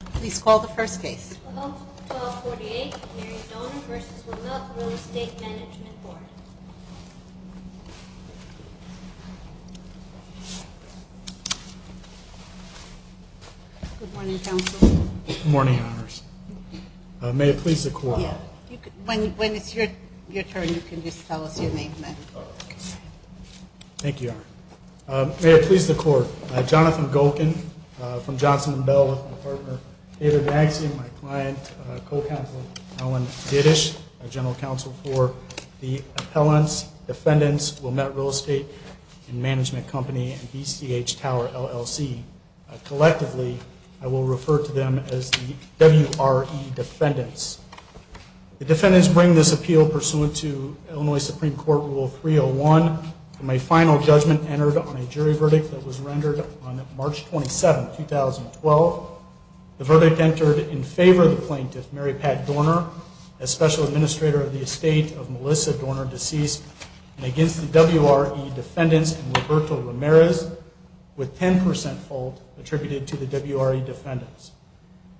Please call the first case. Good morning. May it please the court. When it's your turn, you can just tell us your name. Thank you. May it please the court. Jonathan Golkin from Johnson & Bell with my partner David Magsian, my client, co-counsel Ellen Dittish, our general counsel for the appellants, defendants, Wilmette Real Estate and Management Company and BCH Tower LLC. Collectively, I will refer to them as the WRE defendants. The defendants bring this appeal pursuant to Illinois Supreme Court Rule 301. My final judgment entered on a jury verdict that was rendered on March 27, 2012. The verdict entered in favor of the plaintiff, Mary Pat Dorner, as special administrator of the estate of Melissa Dorner, deceased and against the WRE defendants and Roberto Ramirez with 10% fault attributed to the WRE defendants.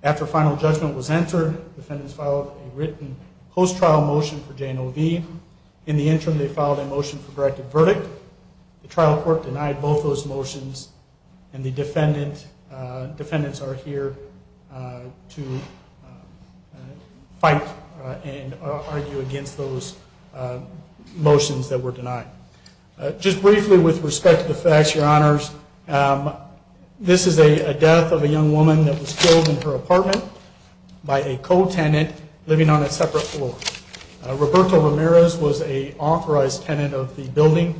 After final judgment was entered, defendants filed a written post-trial motion for J&OV. In the interim, they filed a motion for directed verdict. The trial court denied both those motions and the defendants are here to fight and argue against those motions that were denied. Just briefly with respect to the facts, your honors, this is a death of a young woman that was killed in her apartment by a co-tenant living on a separate floor. Roberto Ramirez was a authorized tenant of the building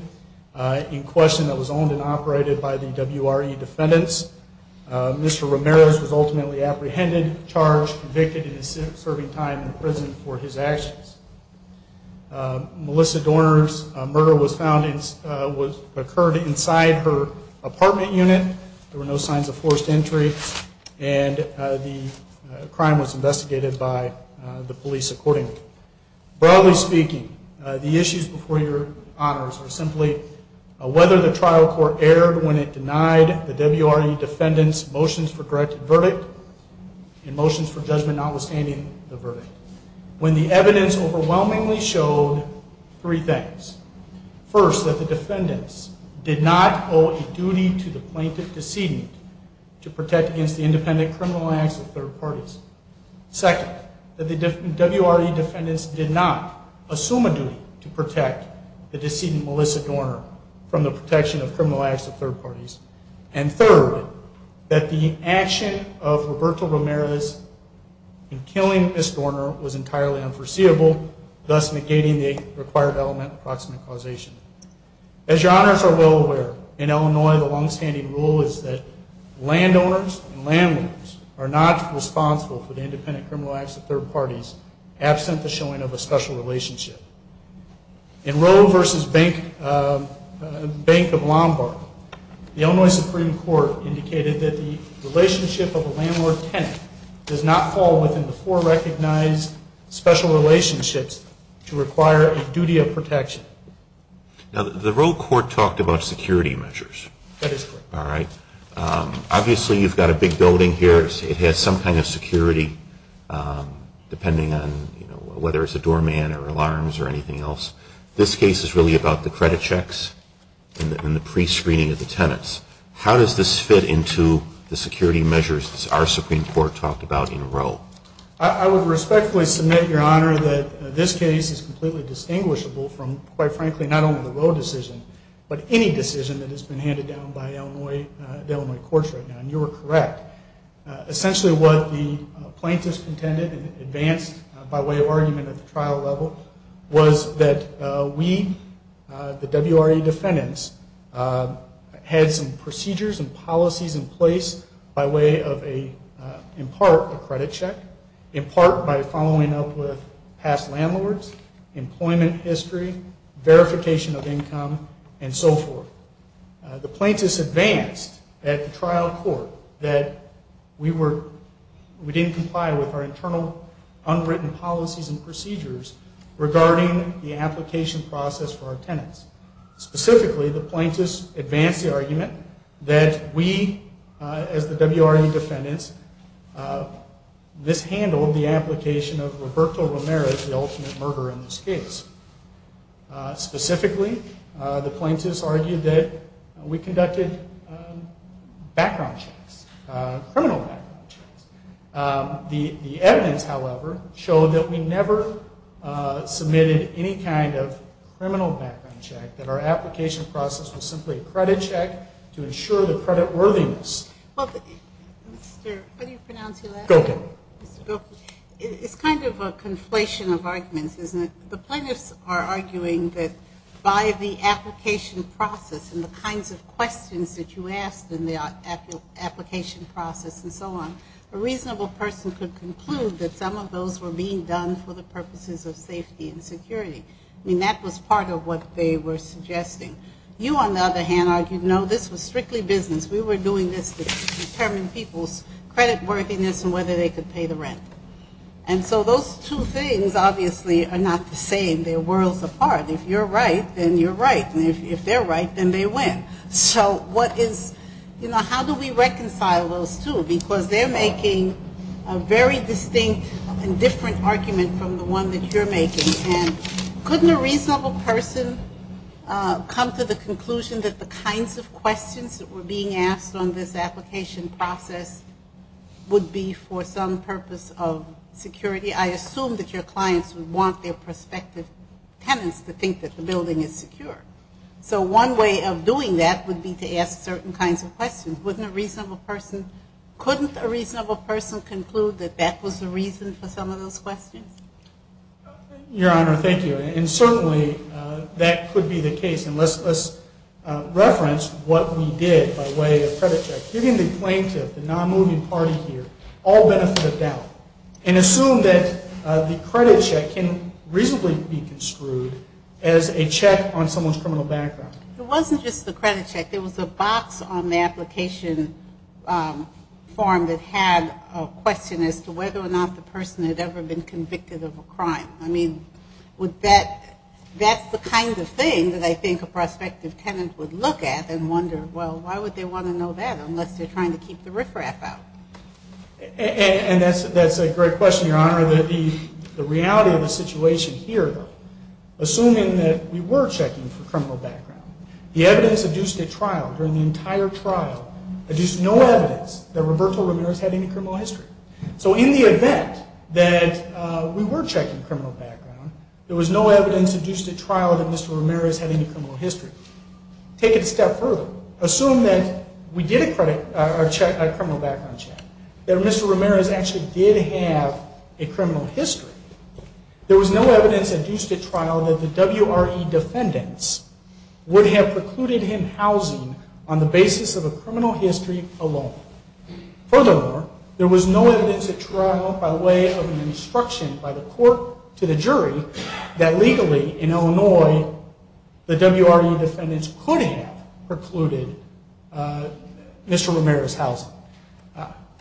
in question that was owned and operated by the WRE defendants. Mr. Ramirez was ultimately apprehended, charged, convicted and is serving time in prison for his actions. Melissa Dorner's murder was found, occurred inside her apartment unit. There were no signs of forced entry and the crime was investigated by the police accordingly. Broadly speaking, the issues before your honors are simply whether the trial court erred when it denied the WRE defendants motions for direct verdict and motions for judgment, notwithstanding the verdict. When the evidence overwhelmingly showed three things. First that the defendants did not owe a duty to the plaintiff decedent to protect against the independent criminal acts of third parties. Second that the WRE defendants did not assume a duty to protect the decedent Melissa Dorner from the protection of criminal acts of third parties. And third, that the action of Roberto Ramirez in killing Miss Dorner was entirely unforeseeable, thus negating the required element of proximate causation. As your honors are well aware in Illinois, the longstanding rule is that landowners and landlords are not responsible for the independent criminal acts of third parties absent the showing of a special relationship. In Roe versus Bank of Lombard, the Illinois Supreme Court indicated that the relationship of a landlord tenant does not fall within the four recognized special relationships to require a duty of protection. Now the Roe court talked about security measures. All right. Obviously you've got a big building here. It has some kind of security depending on whether it's a doorman or alarms or anything else. This case is really about the credit checks and the pre-screening of the tenants. How does this fit into the security measures that our Supreme Court talked about in Roe? I would respectfully submit your honor that this case is completely distinguishable from quite frankly, not only the Roe decision, but any decision that has been handed down by Illinois courts right now. And you were correct. Essentially what the plaintiffs contended and advanced by way of argument at the trial level was that we, the WRE defendants had some procedures and policies in place by way of a, in part, a credit check, in part by following up with past landlords, employment history, verification of income and so forth. The plaintiffs advanced at the trial court that we were, we didn't comply with our internal unwritten policies and procedures regarding the application process for our tenants. Specifically, the plaintiffs advanced the argument that we as the WRE defendants, this handled the application of Roberto Romero as the ultimate murderer in this case. Specifically, the plaintiffs argued that we conducted background checks, criminal background checks. The, the evidence, however, showed that we never submitted any kind of criminal background check, that our application process was simply a credit check to ensure the credit worthiness. Well, Mr. what do you pronounce your last name? It's kind of a conflation of arguments, isn't it? The plaintiffs are arguing that by the application process and the kinds of questions that you asked in the application process and so on, a reasonable person could conclude that some of those were being done for the purposes of safety and security. I mean, that was part of what they were suggesting. You on the other hand argued, no, this was strictly business. We were doing this to determine people's credit worthiness and whether they could pay the rent. And so those two things obviously are not the same. They're worlds apart. If you're right, then you're right. And if they're right, then they win. So what is, you know, how do we reconcile those two because they're making a very distinct and different argument from the one that you're making. And couldn't a reasonable person come to the conclusion that the kinds of questions that were being asked on this application process would be for some purpose of security? I assume that your clients would want their prospective tenants to think that the building is secure. So one way of doing that would be to ask certain kinds of questions. Wouldn't a reasonable person, couldn't a reasonable person conclude that that was the reason for some of those questions? Your Honor, thank you. And certainly that could be the case. And let's reference what we did by way of credit checks. Given the plaintiff, the non-moving party here, all benefit of doubt and assume that the credit check can reasonably be construed as a check on someone's criminal background. It wasn't just the credit check. There was a box on the application form that had a question as to whether or not the person had ever been convicted of a crime. I mean, would that, that's the kind of thing that I think a prospective tenant would look at and wonder, well, why would they want to know that? Unless they're trying to keep the riffraff out. And that's, that's a great question, Your Honor. The reality of the situation here, assuming that we were checking for criminal background, the evidence adduced at trial during the entire trial, adduced no evidence that Roberto Ramirez had any criminal history. So in the event that we were checking criminal background, there was no evidence adduced at trial that Mr. Ramirez had any criminal history. Take it a step further. Assume that we did a credit check, a criminal background check, that Mr. Ramirez actually did have a criminal history. There was no evidence adduced at trial that the WRE defendants would have precluded him housing on the basis of a criminal history alone. Furthermore, there was no evidence at trial by way of an instruction by the court to the WRE defendants could have precluded Mr. Ramirez's housing.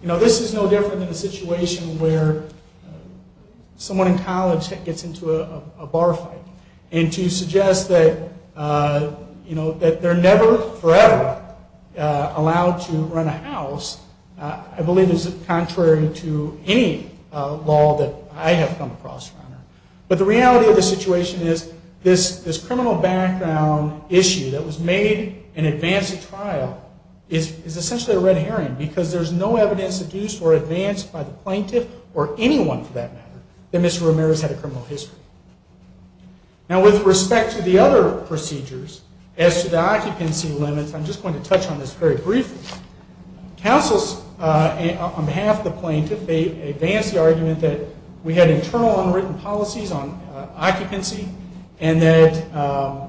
You know, this is no different than a situation where someone in college gets into a bar fight and to suggest that, you know, that they're never forever allowed to run a house, I believe is contrary to any law that I have come across, Your Honor. But the reality of the situation is this criminal background issue that was made in advance of trial is essentially a red herring because there's no evidence adduced or advanced by the plaintiff or anyone for that matter that Mr. Ramirez had a criminal history. Now with respect to the other procedures as to the occupancy limits, I'm just going to touch on this very briefly. Counsels on behalf of the plaintiff, they advanced the argument that we had internal unwritten policies on occupancy and that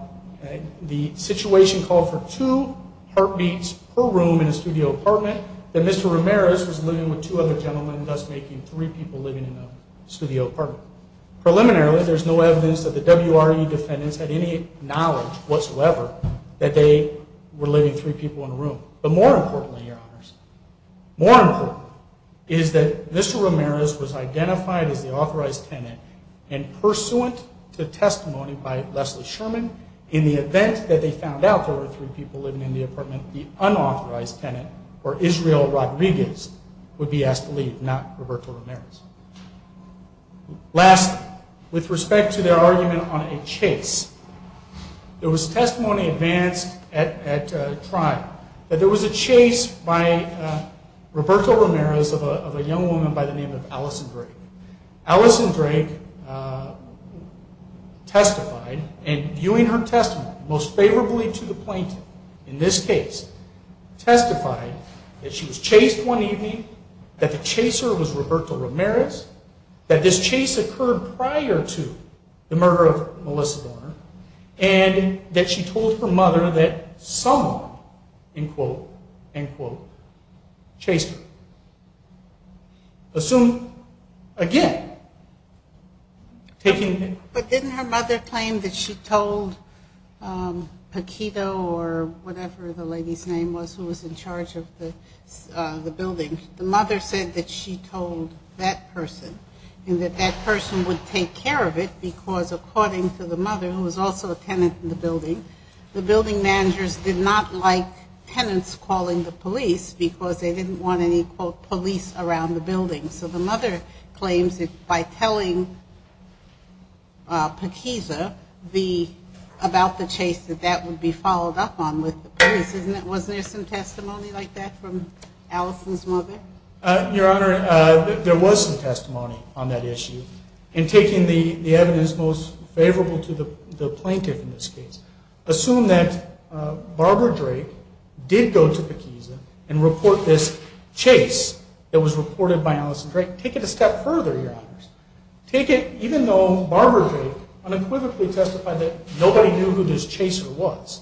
the situation called for two heartbeats per room in a studio apartment that Mr. Ramirez was living with two other gentlemen and thus making three people living in a studio apartment. Preliminarily there's no evidence that the WRE defendants had any knowledge whatsoever that they were living three people in a room. But more importantly, Your Honor, more important is that Mr. Ramirez was identified as the authorized tenant and pursuant to testimony by Leslie Sherman in the event that they found out there were three people living in the apartment, the unauthorized tenant or Israel Rodriguez would be asked to leave, not Roberto Ramirez. Last with respect to their argument on a chase, there was testimony advanced at trial that there was a chase by Roberto Ramirez of a young woman by the name of Allison Drake. Allison Drake testified and viewing her testimony most favorably to the plaintiff in this case testified that she was chased one evening, that the chaser was Roberto Ramirez, that this chase occurred prior to the murder of Melissa Barner and that she told her mother that someone in quote and quote chased her. Assume again, taking, but didn't her mother claim that she told Paquito or whatever the lady's name was who was in charge of the building. The mother said that she told that person and that that person would take care of it because according to the mother, who was also a tenant in the building, the building managers did not like tenants calling the police because they didn't want any police around the building. So the mother claims that by telling Paquito about the chase that that would be followed up on with the police. Wasn't there some testimony like that from Allison's mother? Your Honor, there was some testimony on that issue and taking the evidence most favorable to the plaintiff in this case. Assume that Barbara Drake did go to the Kisa and report this chase that was reported by Allison Drake. Take it a step further, your honors. Take it even though Barbara Drake unequivocally testified that nobody knew who this chaser was.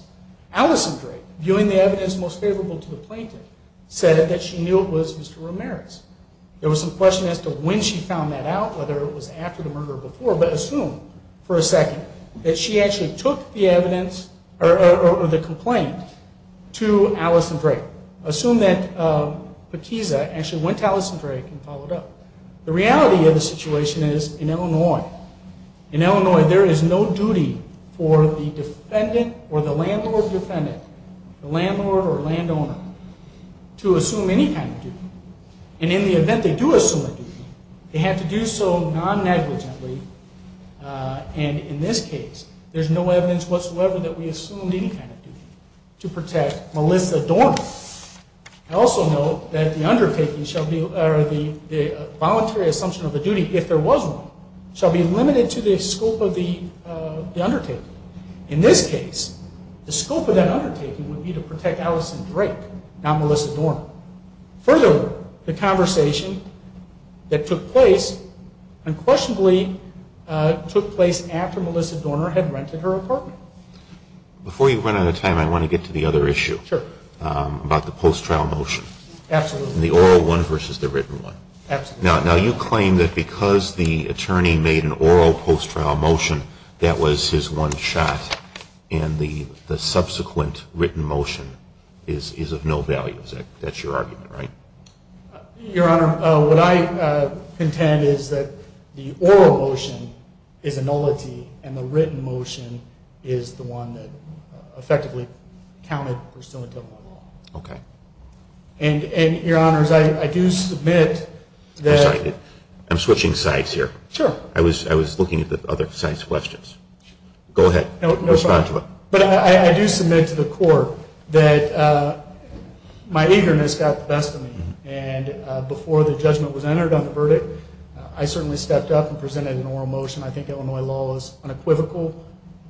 Allison Drake viewing the evidence most favorable to the plaintiff said that she knew it was Mr. Ramirez. There was some question as to when she found that out, whether it was after the murder before, but assume for a second that she actually took the evidence or the complaint to Allison Drake. Assume that Kisa actually went to Allison Drake and followed up. The reality of the situation is in Illinois, in Illinois, there is no duty for the defendant or the landlord defendant, the landlord or landowner to assume any kind of duty. And in the event they do assume that they have to do so non negligently. Uh, and in this case there's no evidence whatsoever that we assumed any kind of duty to protect Melissa Dorman. I also know that the undertaking shall be, or the voluntary assumption of the duty, if there was one, shall be limited to the scope of the, uh, the undertaking. In this case, the scope of that undertaking would be to protect Allison Drake, not Melissa Dorman. Further, the conversation that took place unquestionably, uh, took place after Melissa Dorner had rented her apartment. Before you run out of time, I want to get to the other issue about the post trial motion. Absolutely. The oral one versus the written one. Absolutely. Now, now you claim that because the attorney made an oral post trial motion, that was his one shot. And the subsequent written motion is, is of no value. That's your argument, right? Your honor. What I contend is that the oral motion is a nullity and the written motion is the one that effectively counted pursuant to the law. Okay. And, and your honors, I do submit that I'm switching sides here. Sure. I was, I was looking at the other sites questions. Go ahead. But I do submit to the court that, uh, my eagerness got the best of me. And, uh, before the judgment was entered on the verdict, I certainly stepped up and presented an oral motion. I think Illinois law is unequivocal,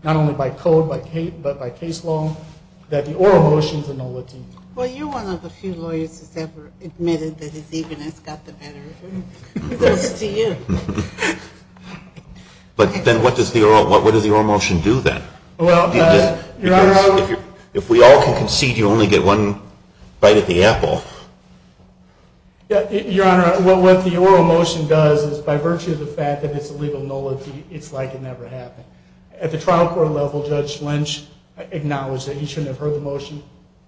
not only by code, by Kate, but by case law that the oral motions are nullity. Well, you're one of the few lawyers who's ever admitted that his eagerness got the better of him. But then what does the oral, what, what does the oral motion do then? Well, if we all can concede, you only get one bite at the apple. Yeah. Your honor. Well, what the oral motion does is by virtue of the fact that it's a legal nullity, it's like it never happened at the trial court level. Judge Lynch acknowledged that he shouldn't have heard the motion.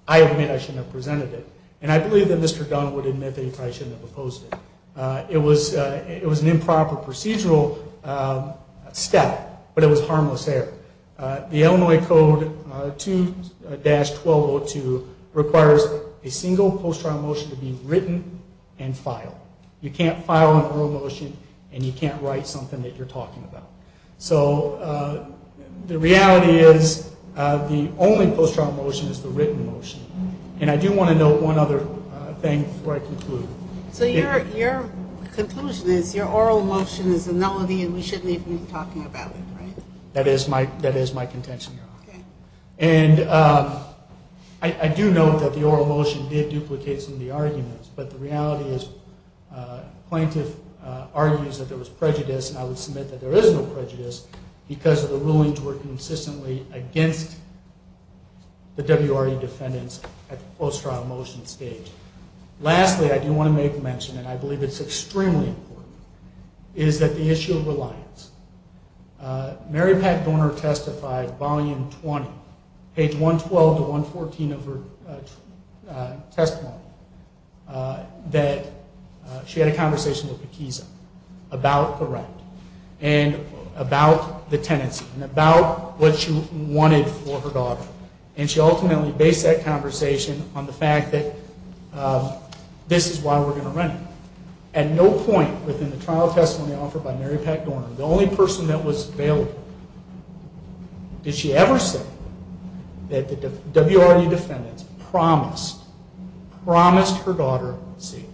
I admit I shouldn't have presented it. And I believe that Mr. Dunn would admit that he probably shouldn't have opposed it. Uh, it was, uh, it was an improper procedural, um, step, but it was harmless error. Uh, the Illinois code, uh, two dash 1202 requires a single post-trial motion to be written and file. You can't file an oral motion and you can't write something that you're talking about. So, uh, the reality is, uh, the only post-trial motion is the written motion. And I do want to know one other thing before I conclude. So your, your conclusion is your oral motion is a nullity and we shouldn't even be talking about it. Right. That is my, that is my contention. And, um, I do know that the oral motion did duplicate some of the arguments, but the reality is, uh, plaintiff, uh, argues that there was prejudice. And I would submit that there is no prejudice because of the rulings were consistently against the WRE defendants at the post-trial motion stage. Lastly, I do want to make mention, and I believe it's extremely important is that the issue of reliance, uh, Mary Pat Dorner testified volume 20 page 112 to 114 of her, uh, uh, testimony, uh, that, she had a conversation with Pekiza about the rent and about the tenancy and about what she wanted for her daughter. And she ultimately based that conversation on the fact that, uh, this is why we're going to rent it. At no point within the trial testimony offered by Mary Pat Dorner, the only person that was available, did she ever say that the WRE defendants promised, promised her daughter safety,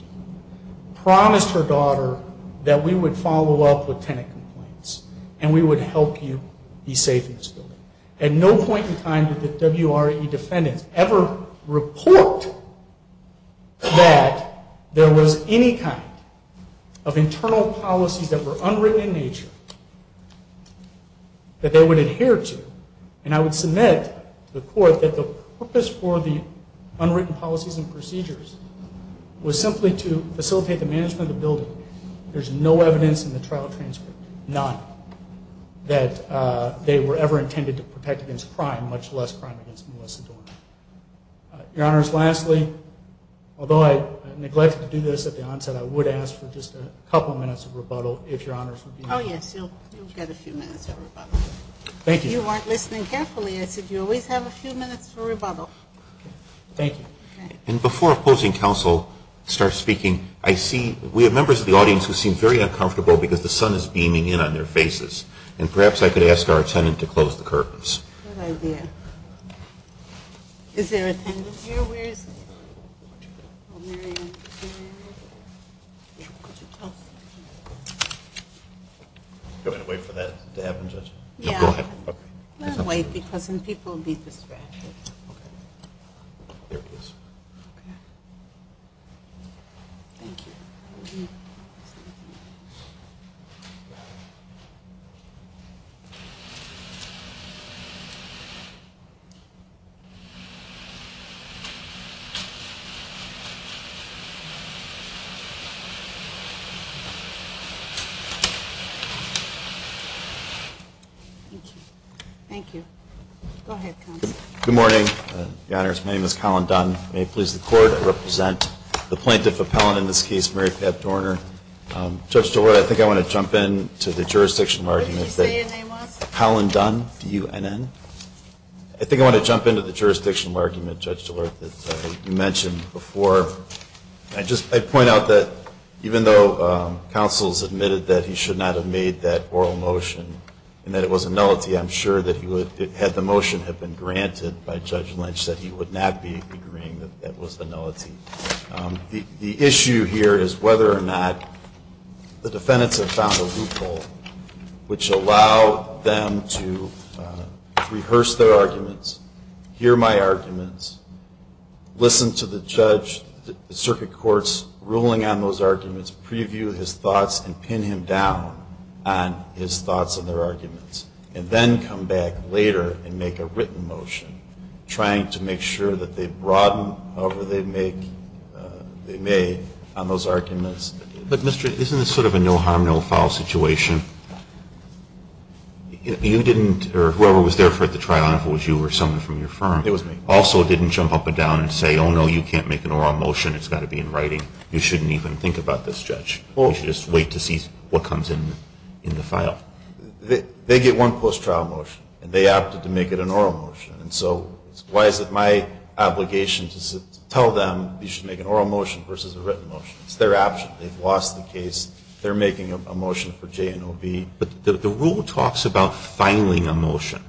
promised her daughter that we would follow up with tenant complaints and we would help you be safe in this building. At no point in time did the WRE defendants ever report that there was any kind of internal policies that were unwritten in nature that they would adhere to. And I would submit to the court that the purpose for the unwritten policies and procedures was simply to facilitate the management of the building. There's no evidence in the trial transcript. None that, uh, they were ever intended to protect against crime, much less crime against Melissa Dorner. Your honors, lastly, although I neglected to do this at the onset, I would ask for just a couple of minutes of rebuttal if your honors would be Oh yes, you'll get a few minutes of rebuttal. Thank you. You weren't listening carefully. I said, you always have a few minutes for rebuttal. Thank you. And before opposing counsel starts speaking, I see we have members of the audience who seem very uncomfortable because the cameras are beaming in on their faces and perhaps I could ask our attendant to close the curtains. Is there a tenant here? Where is it? Go ahead and wait for that to happen, judge. Go ahead and wait because then people will be distracted. There it is. Okay. Thank you. Thank you. Thank you. Go ahead. Good morning. Your honors. My name is Collin Dunn. May it please the court, I represent the plaintiff appellant in this case, Mary Pat Dorner. Judge DeWood, I think I want to jump in to the jurisdictional arguments that Collin Dunn, D-U-N-N. I think I want to jump into the jurisdictional argument, Judge DeWood, that you mentioned before. I just, I point out that even though counsel's admitted that he should not have made that oral motion and that it was a nullity, I'm sure that he would have had the motion have been granted by Judge Lynch, that he would not be agreeing that that was the nullity. The issue here is whether or not the defendants have found a loophole, which allow them to rehearse their arguments, hear my arguments, listen to the judge, the circuit courts ruling on those arguments, preview his thoughts and pin him down on his thoughts and their arguments, and then come back later and make a written motion trying to make sure that they broaden however they make, they may on those arguments. But Mr. isn't this sort of a no harm, no foul situation? If you didn't, or whoever was there for the trial, and if it was you or someone from your firm, also didn't jump up and down and say, oh no, you can't make an oral motion. It's got to be in writing. You shouldn't even think about this judge. You should just wait to see what comes in, in the file. They get one post trial motion and they opted to make it an oral motion. And so why is it my obligation to tell them you should make an oral motion versus a written motion? It's their option. They've lost the case. They're making a motion for J and O B. But the rule talks about filing a motion.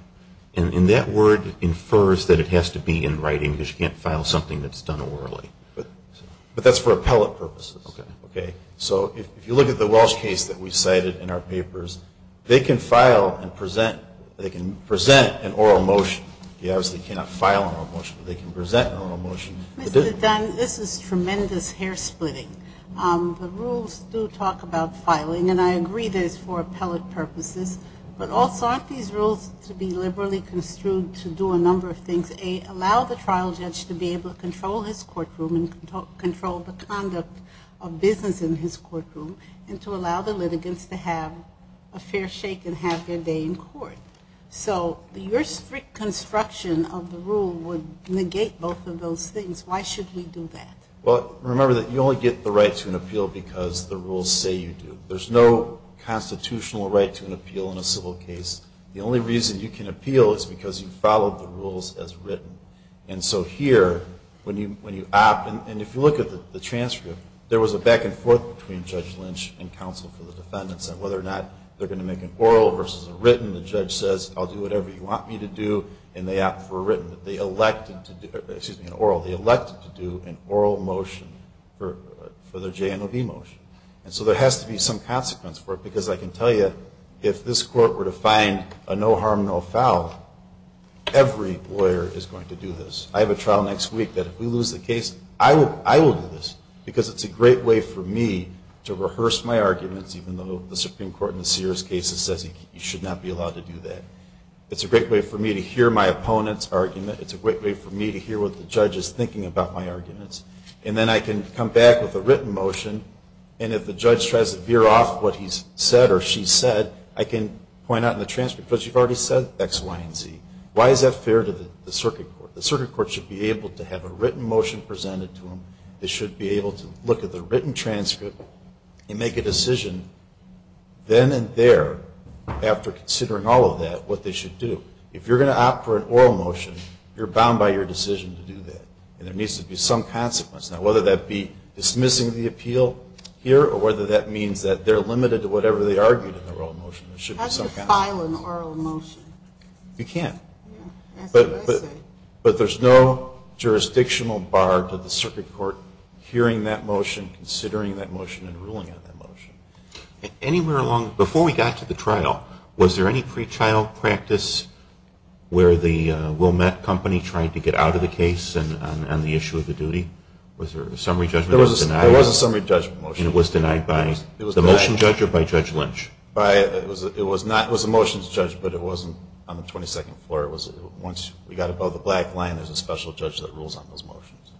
And that word infers that it has to be in writing because you can't file something that's done orally. But that's for appellate purposes. Okay. So if you look at the Welsh case that we cited in our papers, they can file and present, an oral motion. You obviously cannot file an oral motion, but they can present an oral motion. This is tremendous hair splitting. The rules do talk about filing and I agree there's for appellate purposes, but also aren't these rules to be liberally construed to do a number of things. A, allow the trial judge to be able to control his courtroom and control the conduct of business in his courtroom and to allow the litigants to have a fair shake and have their day in court. So your strict construction of the rule would negate both of those things. Why should we do that? Well, remember that you only get the right to an appeal because the rules say you do. There's no constitutional right to an appeal in a civil case. The only reason you can appeal is because you followed the rules as written. And so here when you, when you opt and if you look at the transcript, there was a back and forth between Judge Lynch and counsel for the defendants on whether or not they're going to make an oral versus a written. The judge says, I'll do whatever you want me to do. And they opt for a written that they elected to do an oral. They elected to do an oral motion for the JNOB motion. And so there has to be some consequence for it because I can tell you if this court were to find a no harm, no foul, every lawyer is going to do this. I have a trial next week that if we lose the case, I will, I will do this because it's a great way for me to rehearse my arguments. Even though the Supreme Court in the Sears case says you should not be allowed to do that. It's a great way for me to hear my opponent's argument. It's a great way for me to hear what the judge is thinking about my arguments. And then I can come back with a written motion. And if the judge tries to veer off what he's said or she said, I can point out in the transcript, because you've already said X, Y, and Z. Why is that fair to the circuit court? The circuit court should be able to have a written motion presented to them. They should be able to look at the written transcript and make a decision then and there after considering all of that, what they should do. If you're going to opt for an oral motion, you're bound by your decision to do that. And there needs to be some consequence. Now, whether that be dismissing the appeal here, or whether that means that they're limited to whatever they argued in the oral motion, there should be some consequence. How do you file an oral motion? You can't. But there's no jurisdictional bar to the circuit court hearing that motion, considering that motion, and ruling out that motion. Anywhere along, before we got to the trial, was there any pre-trial practice where the Wilmette company tried to get out of the case and on the issue of the duty? Was there a summary judgment? There was a summary judgment motion. And it was denied by the motion judge or by Judge Lynch? It was the motion's judge, but it wasn't on the 22nd floor. It was once we got above the black line, there's a special judge that rules on those motions.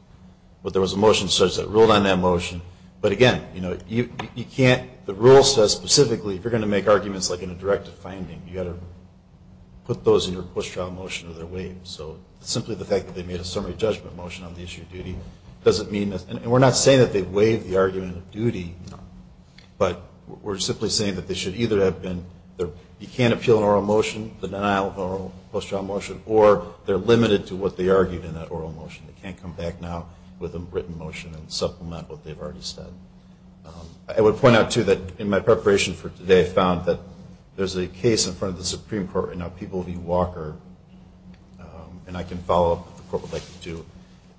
But there was a motion judge that ruled on that motion. But again, you know, you can't, the rule says specifically, if you're going to make arguments like in a directive finding, you got to put those in your post-trial motion or they're waived. So simply the fact that they made a summary judgment motion on the issue of duty doesn't mean that, and we're not saying that they waived the argument of duty, but we're simply saying that they should either have been there. You can't appeal an oral motion. The denial of oral post-trial motion, or they're limited to what they argued in that oral motion. They can't come back now with a written motion and supplement what they've already said. I would point out too, that in my preparation for today, I found that there's a case in front of the Supreme Court, and now people will be Walker, and I can follow up with the court would like to,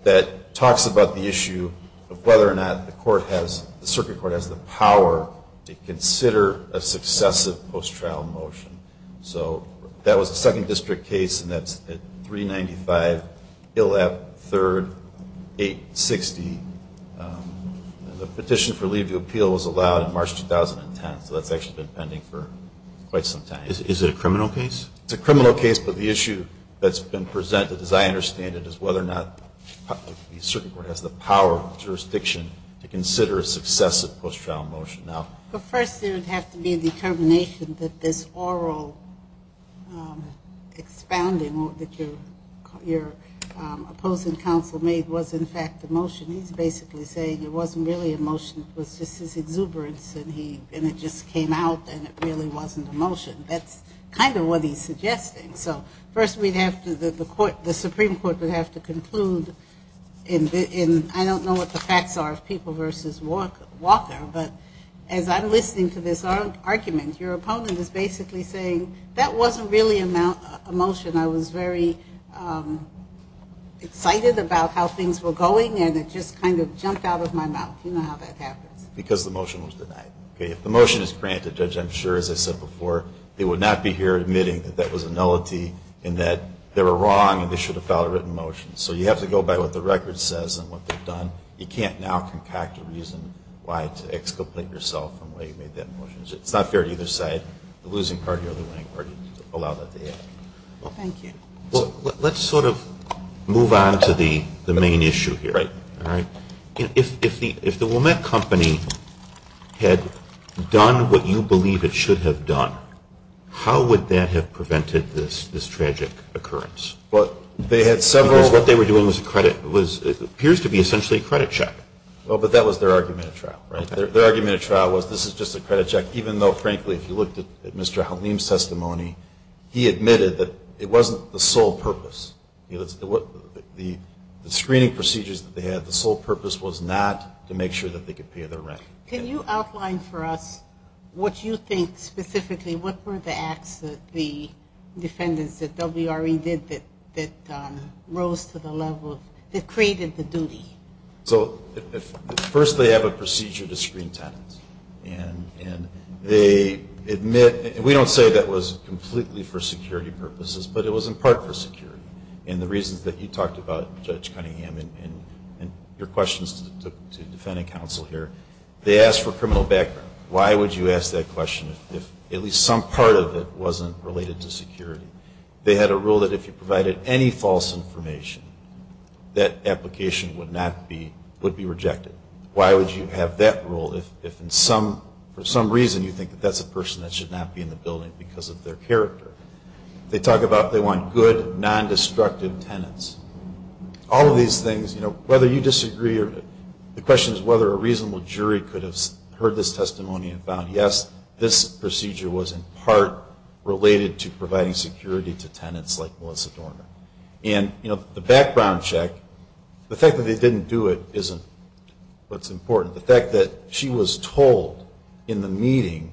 that talks about the issue of whether or not the court has, the circuit court has the power to consider a successive post-trial motion. So that was the second district case. And that's at 395 Illap 3rd, 860 the petition for leave to appeal was allowed in March, 2010. So that's actually been pending for quite some time. Is it a criminal case? It's a criminal case, but the issue that's been presented as I understand it is whether or not the circuit court has the power of jurisdiction to consider a successive post-trial motion. But first there would have to be a determination that this oral expounding or that your, your opposing counsel made was in fact the motion. He's basically saying it wasn't really emotion. It was just his exuberance and he, and it just came out and it really wasn't emotion. That's kind of what he's suggesting. So first we'd have to, the court, the Supreme Court would have to conclude in the, in, I don't know what the facts are of people versus walk Walker, but as I'm listening to this argument, your opponent is basically saying that wasn't really amount emotion. I was very excited about how things were going and it just kind of jumped out of my mouth. You know how that happens because the motion was denied. Okay. If the motion is granted judge, I'm sure as I said before, they would not be here admitting that that was a nullity in that they were wrong and they should have filed a written motion. So you have to go by what the record says and what they've done. You can't now concoct a reason why to exculpate yourself from where you made that motion. It's not fair to either side, the losing party or the winning party to allow that. Thank you. Let's sort of move on to the main issue here. Right. All right. If, if the, if the woman company had done what you believe it should have done, how would that have prevented this, this tragic occurrence? Well, they had several, what they were doing was a credit was, it appears to be essentially a credit check. Well, but that was their argument of trial, right? Their argument of trial was, this is just a credit check. Even though, frankly, if you looked at Mr. Halim's testimony, he admitted that it wasn't the sole purpose. It was the screening procedures that they had. The sole purpose was not to make sure that they could pay their rent. Can you outline for us what you think specifically, what were the acts that the defendants that WRE did that, that rose to the level, that created the duty? So first they have a procedure to screen tenants and they admit, we don't say that was completely for security purposes, but it was in part for security. And the reasons that you talked about Judge Cunningham and your questions to defendant counsel here, they asked for criminal background. Why would you ask that question? If at least some part of it wasn't related to security, they had a rule that if you provided any false information, that application would not be, would be rejected. Why would you have that rule? If, if in some, for some reason you think that that's a person that should not be in the building because of their character, they talk about, they want good non-destructive tenants, all of these things, you know, whether you disagree or the question is whether a reasonable jury could have heard this testimony and found, yes, this procedure was in part related to providing security to tenants like Melissa Dorner. And, you know, the background check, the fact that they didn't do it isn't what's important. The fact that she was told in the meeting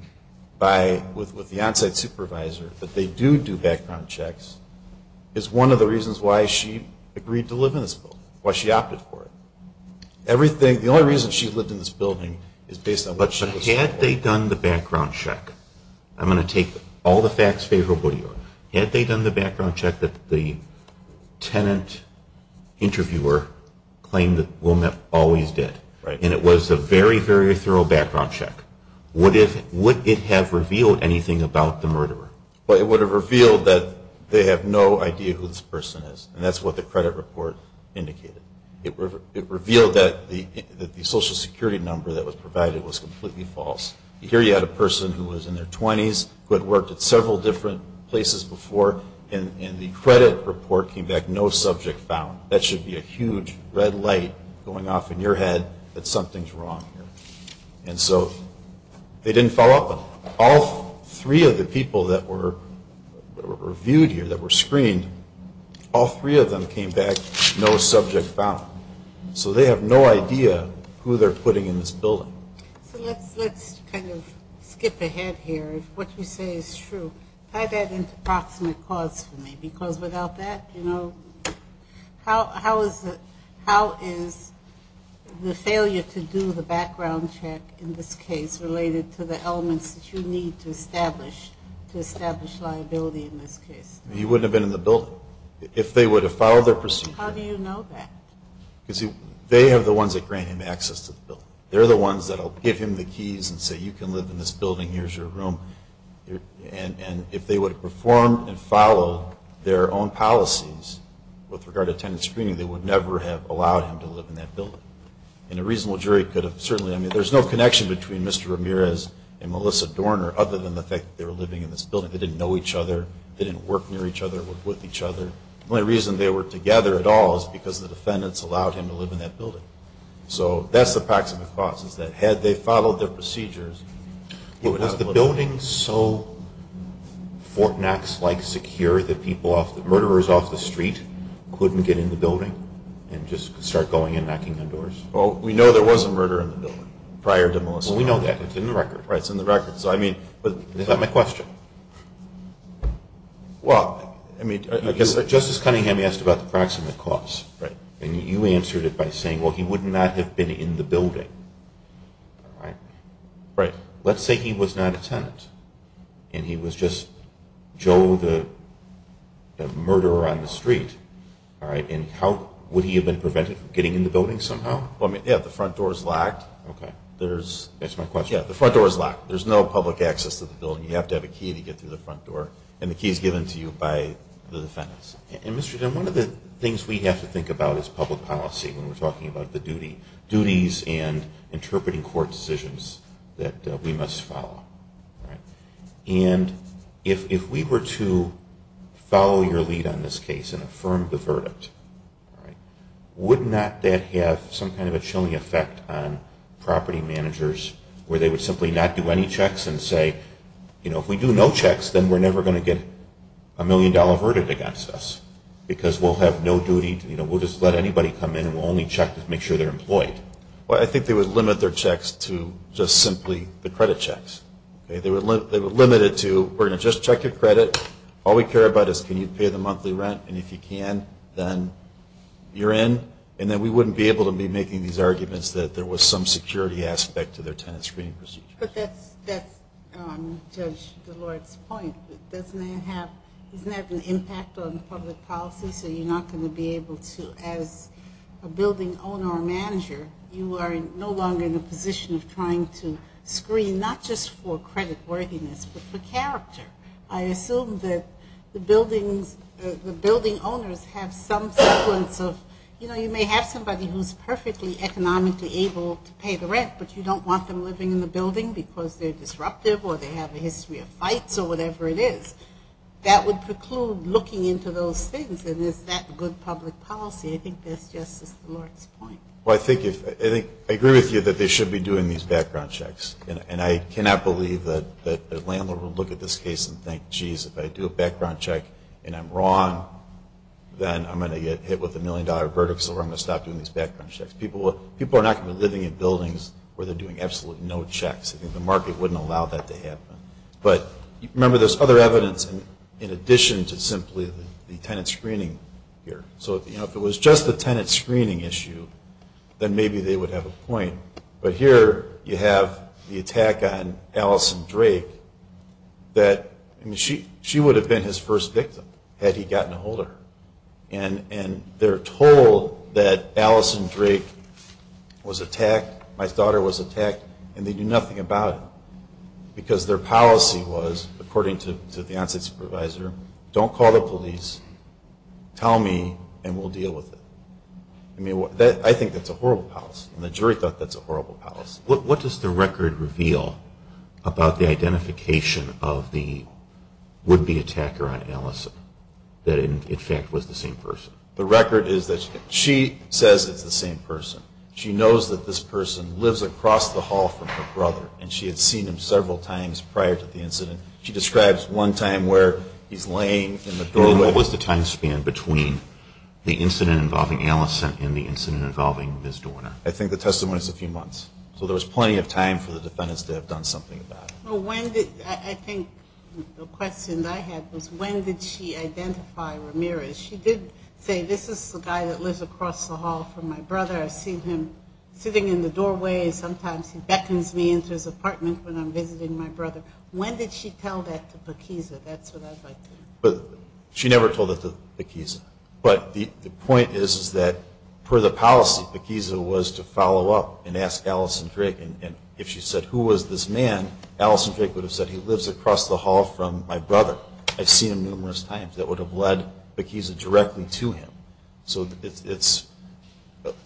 by, with, with the onsite supervisor that they do do background checks is one of the reasons why she agreed to live in this building, why she opted for it. Everything. The only reason she lived in this building is based on what she had. They done the background check. I'm going to take all the facts favorably. Had they done the background check that the tenant interviewer claimed that Wilmette always did, and it was a very, very thorough background check. What if, would it have revealed anything about the murderer? Well, it would have revealed that they have no idea who this person is. And that's what the credit report indicated. It revealed that the, that the social security number that was provided was completely false. Here you had a person who was in their twenties who had worked at several different places before. And the credit report came back, no subject found. That should be a huge red light going off in your head that something's wrong here. And so they didn't follow up on all three of the people that were viewed here that were screened. All three of them came back, no subject found. So they have no idea who they're putting in this building. So let's, let's kind of skip ahead here. What you say is true. I've had an approximate cause for me because without that, you know, how, how is it, how is the failure to do the background check in this case related to the elements that you need to establish, to establish liability in this case? You wouldn't have been in the building if they would have followed their procedure. Because they have the ones that grant him access to the bill. They're the ones that'll give him the keys and say, you can live in this building. Here's your room. And, and if they would perform and follow their own policies with regard to attendance screening, they would never have allowed him to live in that building. And a reasonable jury could have certainly, I mean, there's no connection between Mr. Ramirez and Melissa Dorner, other than the fact that they were living in this building. They didn't know each other. They didn't work near each other with each other. The only reason they were together at all is because the defendants allowed him to live in that building. So that's the approximate cause is that had they followed their procedures, it would have the building. So Fort Knox like secure that people off the murderers off the street couldn't get in the building and just start going in knocking on doors. Well, we know there was a murder in the building prior to Melissa. We know that it's in the record, right? It's in the record. So I mean, but is that my question? Well, I mean, I guess that justice Cunningham asked about the proximate cause, right? And you answered it by saying, well, he would not have been in the building. All right. Right. Let's say he was not a tenant and he was just Joe, the murderer on the street. All right. And how would he have been prevented from getting in the building somehow? Well, I mean, yeah, the front door is locked. Okay. There's, that's my question. Yeah. The front door is locked. There's no public access to the building. You have to have a key to get through the front door and the keys given to you by the defendants. And Mr. Jim, one of the things we have to think about is public policy. When we're talking about the duty duties and interpreting court decisions, that we must follow. Right. And if, if we were to follow your lead on this case and affirm the verdict, all right, would not that have some kind of a chilling effect on property managers where they would simply not do any checks and say, you know, if we do no checks, then we're never going to get a million dollar verdict against us because we'll have no duty to, you know, we'll just let anybody come in and we'll only check to make sure they're employed. Well, I think they would limit their checks to just simply the credit checks. Okay. They would limit, they would limit it to, we're going to just check your credit. All we care about is can you pay the monthly rent? And if you can, then you're in. And then we wouldn't be able to be making these arguments that there was some security aspect to their tenant screening. But that's, that's, um, judge Deloitte's point. Doesn't that have, isn't that an impact on public policy? So you're not going to be able to, as a building owner or manager, you are no longer in a position of trying to screen, not just for credit worthiness, but for character. I assume that the buildings, the building owners have some sequence of, you know, you may have somebody who's perfectly economically able to pay the rent, but you don't want them living in the building because they're disruptive or they have a history of fights or whatever it is that would preclude looking into those things. And is that good public policy? I think that's justice Deloitte's point. Well, I think if I think I agree with you that they should be doing these background checks and I cannot believe that the landlord will look at this case and think, geez, if I do a background check and I'm wrong, then I'm going to get hit with a million dollar verdict. So I'm going to stop doing these background checks. People, people are not going to be living in buildings where they're doing absolutely no checks. I think the market wouldn't allow that to happen. But remember there's other evidence in addition to simply the tenant screening here. So if it was just the tenant screening issue, then maybe they would have a point. But here you have the attack on Allison Drake that, I mean, she, she would have been his first victim had he gotten a holder. And, and they're told that Allison Drake was attacked. My daughter was attacked and they knew nothing about it because their policy was according to the onsite supervisor, don't call the police. Tell me and we'll deal with it. I mean that I think that's a horrible house and the jury thought that's a horrible house. What does the record reveal about the identification of the would-be attacker on Allison that in fact was the same person? The record is that she says it's the same person. She knows that this person lives across the hall from her brother and she had seen him several times prior to the incident. She describes one time where he's laying in the doorway. What was the time span between the incident involving Allison and the incident involving Ms. Dorner? I think the testimony is a few months. So there was plenty of time for the defendants to have done something about it. Well, when did I think the question I had was when did she identify Ramirez? She did say, this is the guy that lives across the hall from my brother. I've seen him sitting in the doorway. Sometimes he beckons me into his apartment when I'm visiting my brother. When did she tell that to Paquiza? That's what I'd like to know. But she never told it to Paquiza. But the point is, is that per the policy, Paquiza was to follow up and ask Allison Drake. And if she said, who was this man? Allison Drake would have said, he lives across the hall from my brother. I've seen him numerous times. That would have led Paquiza directly to him. So it's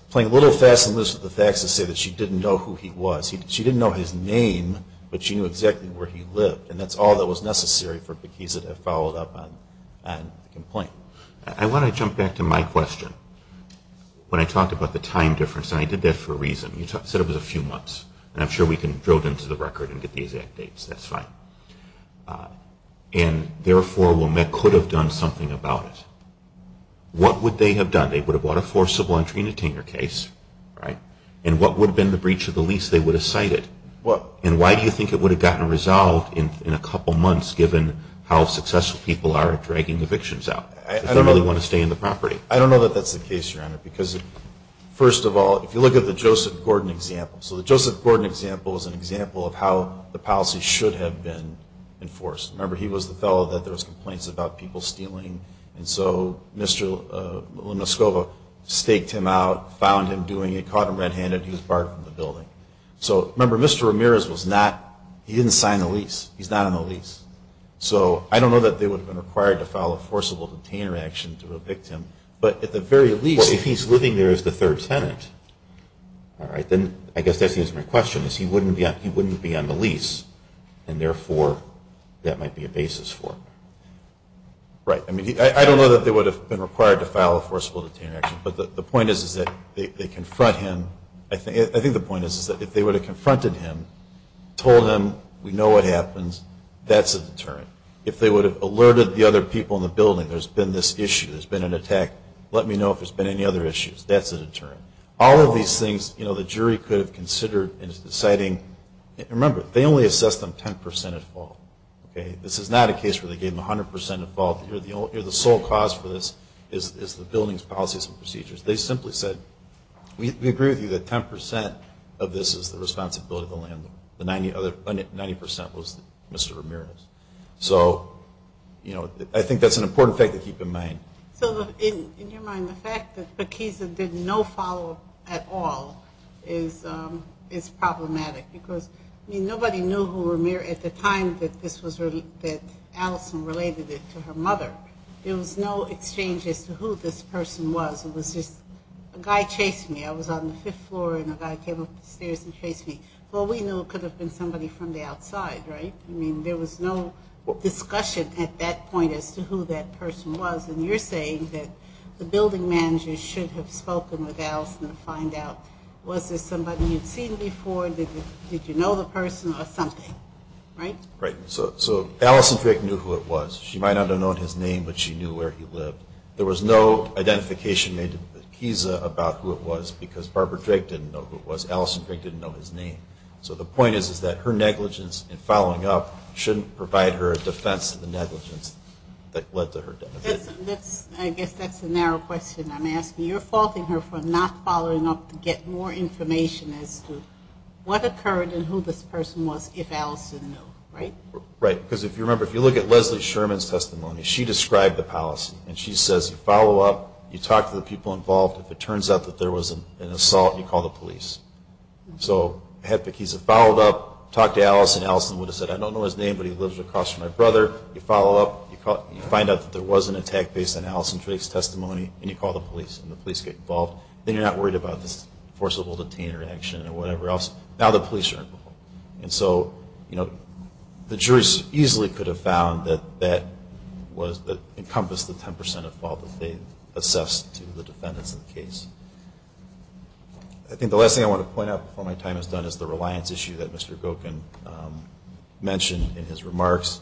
playing a little fast and loose with the facts to say that she didn't know who he was. She didn't know his name, but she knew exactly where he lived. And that's all that was necessary for Paquiza to follow up on the complaint. I want to jump back to my question. When I talked about the time difference, and I did that for a reason. You said it was a few months and I'm sure we can drill into the record and get the exact dates. That's fine. And therefore, WOMEC could have done something about it. What would they have done? They would have bought a forcible entry and detainer case, right? And what would have been the breach of the lease? They would have cited it. And why do you think it would have gotten resolved in a couple months, given how successful people are at dragging evictions out? I don't really want to stay in the property. I don't know that that's the case, Your Honor, because first of all, if you look at the Joseph Gordon example, so the Joseph Gordon example is an example of how the policy should have been enforced. Remember, he was the fellow that there was complaints about people stealing. And so Mr. Lomascova staked him out, found him doing it, caught him red handed. He was barred from the building. So remember, Mr. Ramirez was not, he didn't sign the lease. He's not on the lease. So I don't know that they would have been required to file a forcible detainer action to evict him. But at the very least, if he's living there as the third tenant, all right, then I guess that's my question is he wouldn't be, he wouldn't be on the lease and therefore that might be a basis for it. Right. I mean, I don't know that they would have been required to file a forcible detainer action, but the point is, is that they confront him. I think, I think the point is, is that if they would have confronted him, told him, we know what happens, that's a deterrent. If they would have alerted the other people in the building, there's been this issue, there's been an attack. Let me know if there's been any other issues. That's a deterrent. All of these things, you know, the jury could have considered in deciding. Remember, they only assessed them 10% at fault. Okay. This is not a case where they gave them a hundred percent of fault. You're the only, you're the sole cause for this is, is the building's policies and procedures. They simply said, we agree with you that 10% of this is the responsibility of the landlord. The 90 other 90% was Mr. Ramirez. So, you know, I think that's an important thing to keep in mind. So in your mind, the fact that the keys that did no follow at all is, um, it's problematic because I mean, nobody knew who were mere at the time that this was really, that Alison related it to her mother. There was no exchange as to who this person was. It was just a guy chasing me. I was on the fifth floor and a guy came up the stairs and chased me. Well, we knew it could have been somebody from the outside, right? I mean, there was no discussion at that point as to who that person was. And you're saying that the building manager should have spoken with Alison to find out, was this somebody you'd seen before? Did you know the person or something? Right. Right. So, so Alison Fick knew who it was. She might not have known his name, but she knew where he lived. There was no identification made about who it was because Barbara Drake didn't know who it was. Alison Drake didn't know his name. So the point is, is that her negligence and following up shouldn't provide her a defense of the negligence that led to her death. That's, I guess that's the narrow question I'm asking. You're faulting her for not following up to get more information as to what occurred and who this person was, if Alison knew, right? Right. Because if you remember, if you look at Leslie Sherman's testimony, she described the policy and she says, you follow up, you talk to the people involved. If it turns out that there was an assault, you call the police. So have the keys have followed up, talk to Alison. Alison would have said, I don't know his name, but he lives across from my brother. You follow up, you find out that there was an attack based on Alison Drake's testimony and you call the police and the police get involved. Then you're not worried about this forcible detainer action or whatever else. Now the police are involved. And so, you know, the jury's easily could have found that that was that encompassed the 10% of fault that they assessed to the defendants in the case. I think the last thing I want to point out before my time is done is the reliance issue that Mr. Gokin mentioned in his remarks.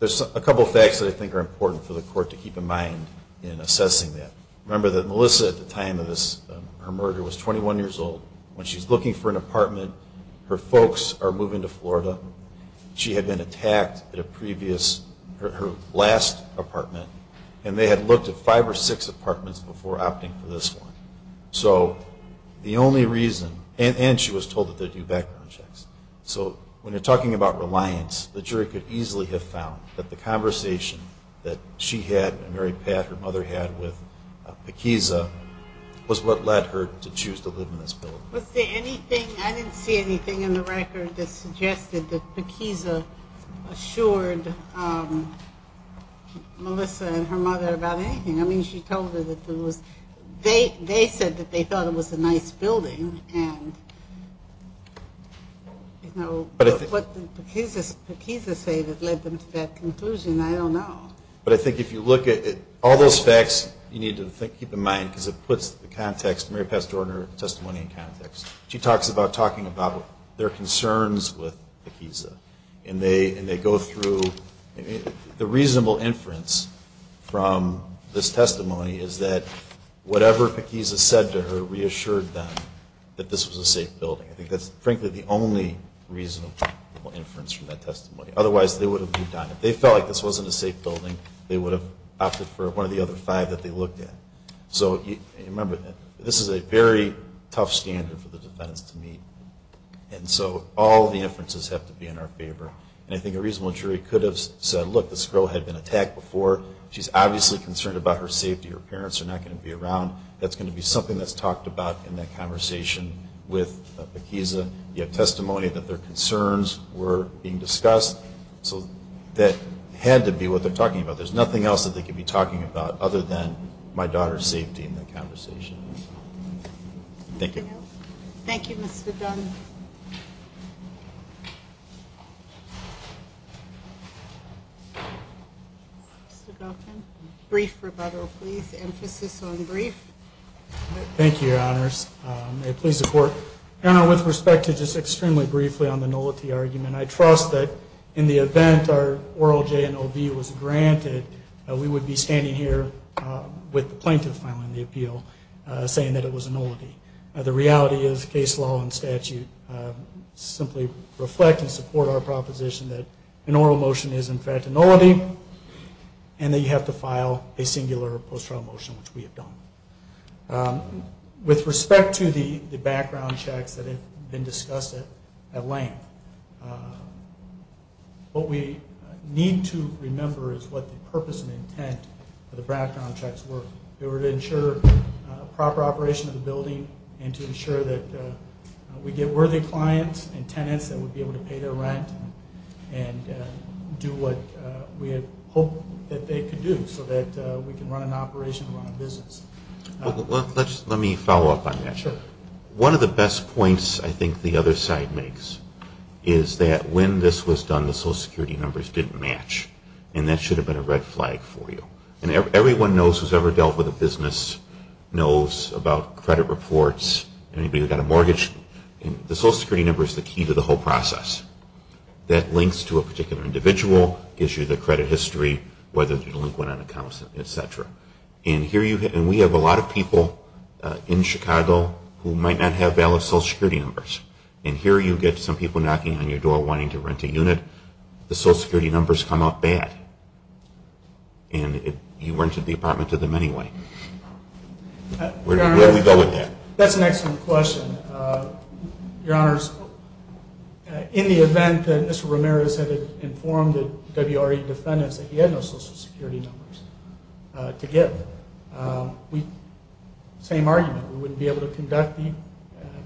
There's a couple of facts that I think are important for the court to keep in mind in assessing that. Remember that Melissa at the time of this, her murder was 21 years old when she's looking for an apartment. Her folks are moving to Florida. She had been attacked at a previous or her last apartment and they had looked at five or six apartments before opting for this one. So the only reason, and she was told that they do background checks. So when you're talking about reliance, the jury could easily have found that the conversation that she had and Mary Pat, her mother had with Pekiza was what led her to choose to live in this building. Was there anything, I didn't see anything in the record that suggested that Pekiza assured Melissa and her mother about anything. I mean, she told her that there was, they said that they thought it was a nice building and what Pekiza say that led them to that conclusion, I don't know. But I think if you look at all those facts, you need to keep in mind because it puts the context, Mary Pat's testimony in context. She talks about talking about their concerns with Pekiza and they, and they go through the reasonable inference from this testimony is that whatever Pekiza said to her reassured them that this was a safe building. I think that's frankly the only reasonable inference from that testimony. Otherwise they would have done it. They felt like this wasn't a safe building. They would have opted for one of the other five that they looked at. So you remember this is a very tough standard for the defense to meet. And so all the inferences have to be in our favor. And I think a reasonable jury could have said, look, this girl had been attacked before. She's obviously concerned about her safety. Her parents are not going to be around. That's going to be something that's talked about in that conversation with Pekiza. You have testimony that their concerns were being discussed. So that had to be what they're talking about. There's nothing else that they could be talking about other than my daughter's safety in that conversation. Thank you. Thank you. Brief rebuttal, please. Emphasis on brief. Thank you. Your honors. Please support with respect to just extremely briefly on the nullity argument. And I trust that in the event our oral J and OV was granted, we would be standing here with the plaintiff filing the appeal saying that it was a nullity. The reality is case law and statute simply reflect and support our proposition that an oral motion is in fact a nullity and that you have to file a singular post-trial motion, which we have done. With respect to the background checks that have been discussed at length, what we need to remember is what the purpose and intent of the background checks were. They were to ensure a proper operation of the building and to ensure that we get worthy clients and tenants that would be able to pay their rent and do what we had hoped that they could do so that we can run an operation and run a business. Let me follow up on that. Sure. One of the best points I think the other side makes is that when this was done, the social security numbers didn't match and that should have been a red flag for you. And everyone knows who's ever dealt with a business knows about credit reports and anybody who got a mortgage and the social security number is the key to the whole process that links to a particular individual, gives you the credit history, whether you're delinquent on accounts, et cetera. And we have a lot of people in Chicago who might not have valid social security numbers. And here you get some people knocking on your door wanting to rent a unit. The social security numbers come up bad and you rented the apartment to them anyway. That's an excellent question. Your honors, in the event that Mr. Ramirez had informed the WRE defendants that he had no social security numbers to give, we same argument, we wouldn't be able to conduct the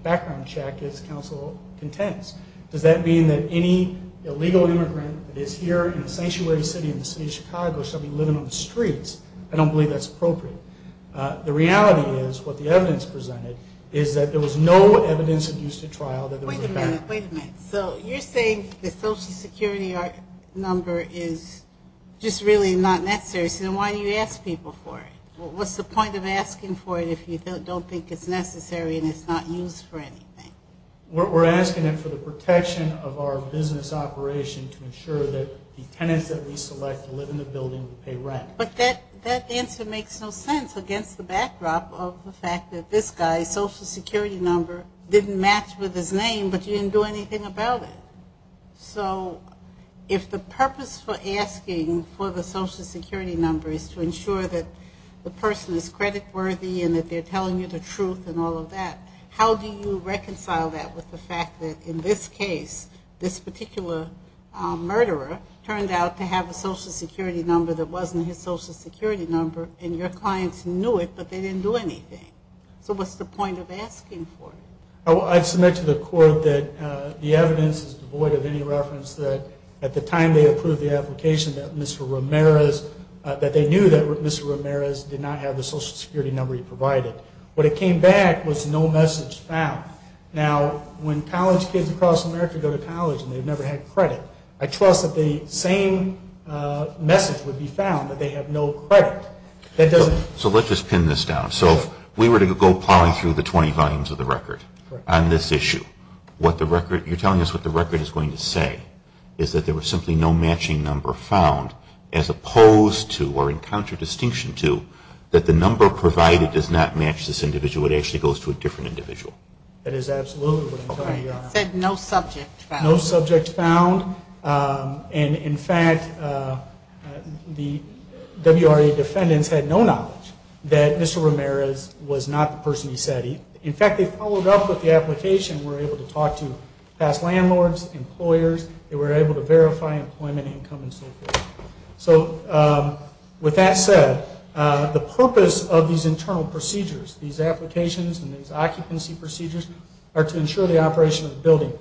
background check as counsel contends. Does that mean that any illegal immigrant that is here in a sanctuary city in the city of Chicago should be living on the streets? I don't believe that's appropriate. The reality is what the evidence presented is that there was no evidence of use to trial. So you're saying the social security art number is just really, not necessary. So then why do you ask people for it? What's the point of asking for it if you don't think it's necessary and it's not used for anything? We're asking them for the protection of our business operation to ensure that the tenants that we select to live in the building pay rent. But that, that answer makes no sense against the backdrop of the fact that this guy's social security number didn't match with his name, but you didn't do anything about it. So if the purpose for asking for the social security number is to ensure that the person is credit worthy and that they're telling you the truth and all of that, how do you reconcile that with the fact that in this case, this particular murderer turned out to have a social security number that wasn't his social security number and your clients knew it, but they didn't do anything. So what's the point of asking for it? I submit to the court that the evidence is devoid of any reference that at the time they approved the application that Mr. Ramirez that they knew that Mr. Ramirez did not have the social security number he provided. What it came back was no message found. Now when college kids across America go to college and they've never had credit, I trust that the same message would be found that they have no credit. That doesn't. So let's just pin this down. So if we were to go plowing through the 20 volumes of the record on this issue, what the record, you're telling us what the record is going to say is that there was simply no matching number found as opposed to, or in counter distinction to that the number provided does not match this individual. It actually goes to a different individual. That is absolutely what I'm telling you, Your Honor. Said no subject found. No subject found. And in fact, the WRA defendants had no knowledge that Mr. Ramirez was not the person he said he, in fact, they followed up with the application, were able to talk to past landlords, employers that were able to verify employment, income and so forth. So with that said the purpose of these internal procedures, these applications and these occupancy procedures are to ensure the operation of the building.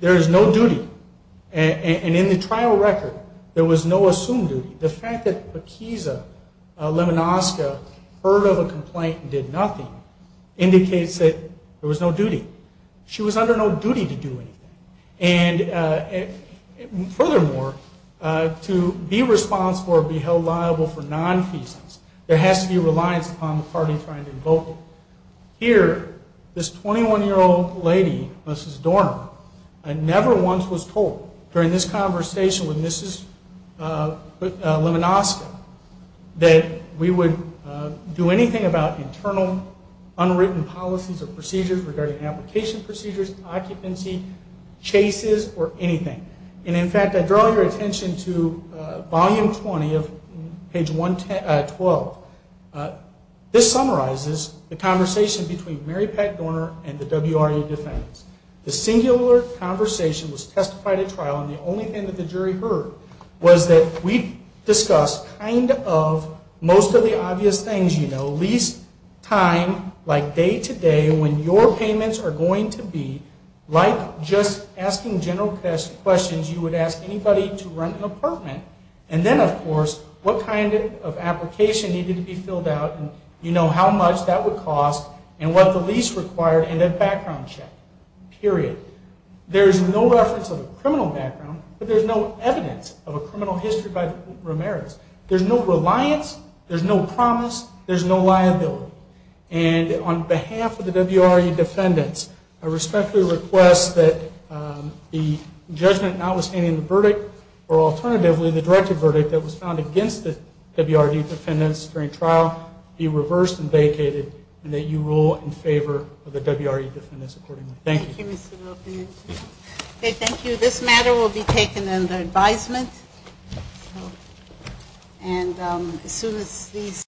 There is no duty. And in the trial record there was no assumed duty. The fact that Bikiza Lemonoska heard of a complaint and did nothing indicates that there was no duty. She was under no duty to do anything. And furthermore, to be responsible or be held liable for non-feasance, there has to be reliance upon the party trying to invoke it. Here, this 21 year old lady, Mrs. Dorner, never once was told during this conversation with Mrs. Lemonoska that we would do anything about internal unwritten policies or procedures regarding application procedures, occupancy, chases, or anything. And in fact, I draw your attention to volume 20 of page 12. This summarizes the conversation between Mary Pat Dorner and the WRU defendants. The singular conversation was testified at trial and the only thing that the jury heard was that we discussed kind of most of the obvious things, you know, lease time, like day to day, when your payments are going to be like just asking general questions, you would ask anybody to rent an apartment. And then of course, what kind of application needed to be filled out? And you know how much that would cost and what the lease required and that background check, period. There's no reference of a criminal background, but there's no evidence of a criminal history by the remerits. There's no reliance. There's no promise. There's no liability. And on behalf of the WRU defendants, I respectfully request that the judgment notwithstanding the verdict or against the WRU defendants during trial be reversed and vacated and that you rule in favor of the WRU defendants accordingly. Thank you. Okay. Thank you. This matter will be taken under advisement. And as soon as these.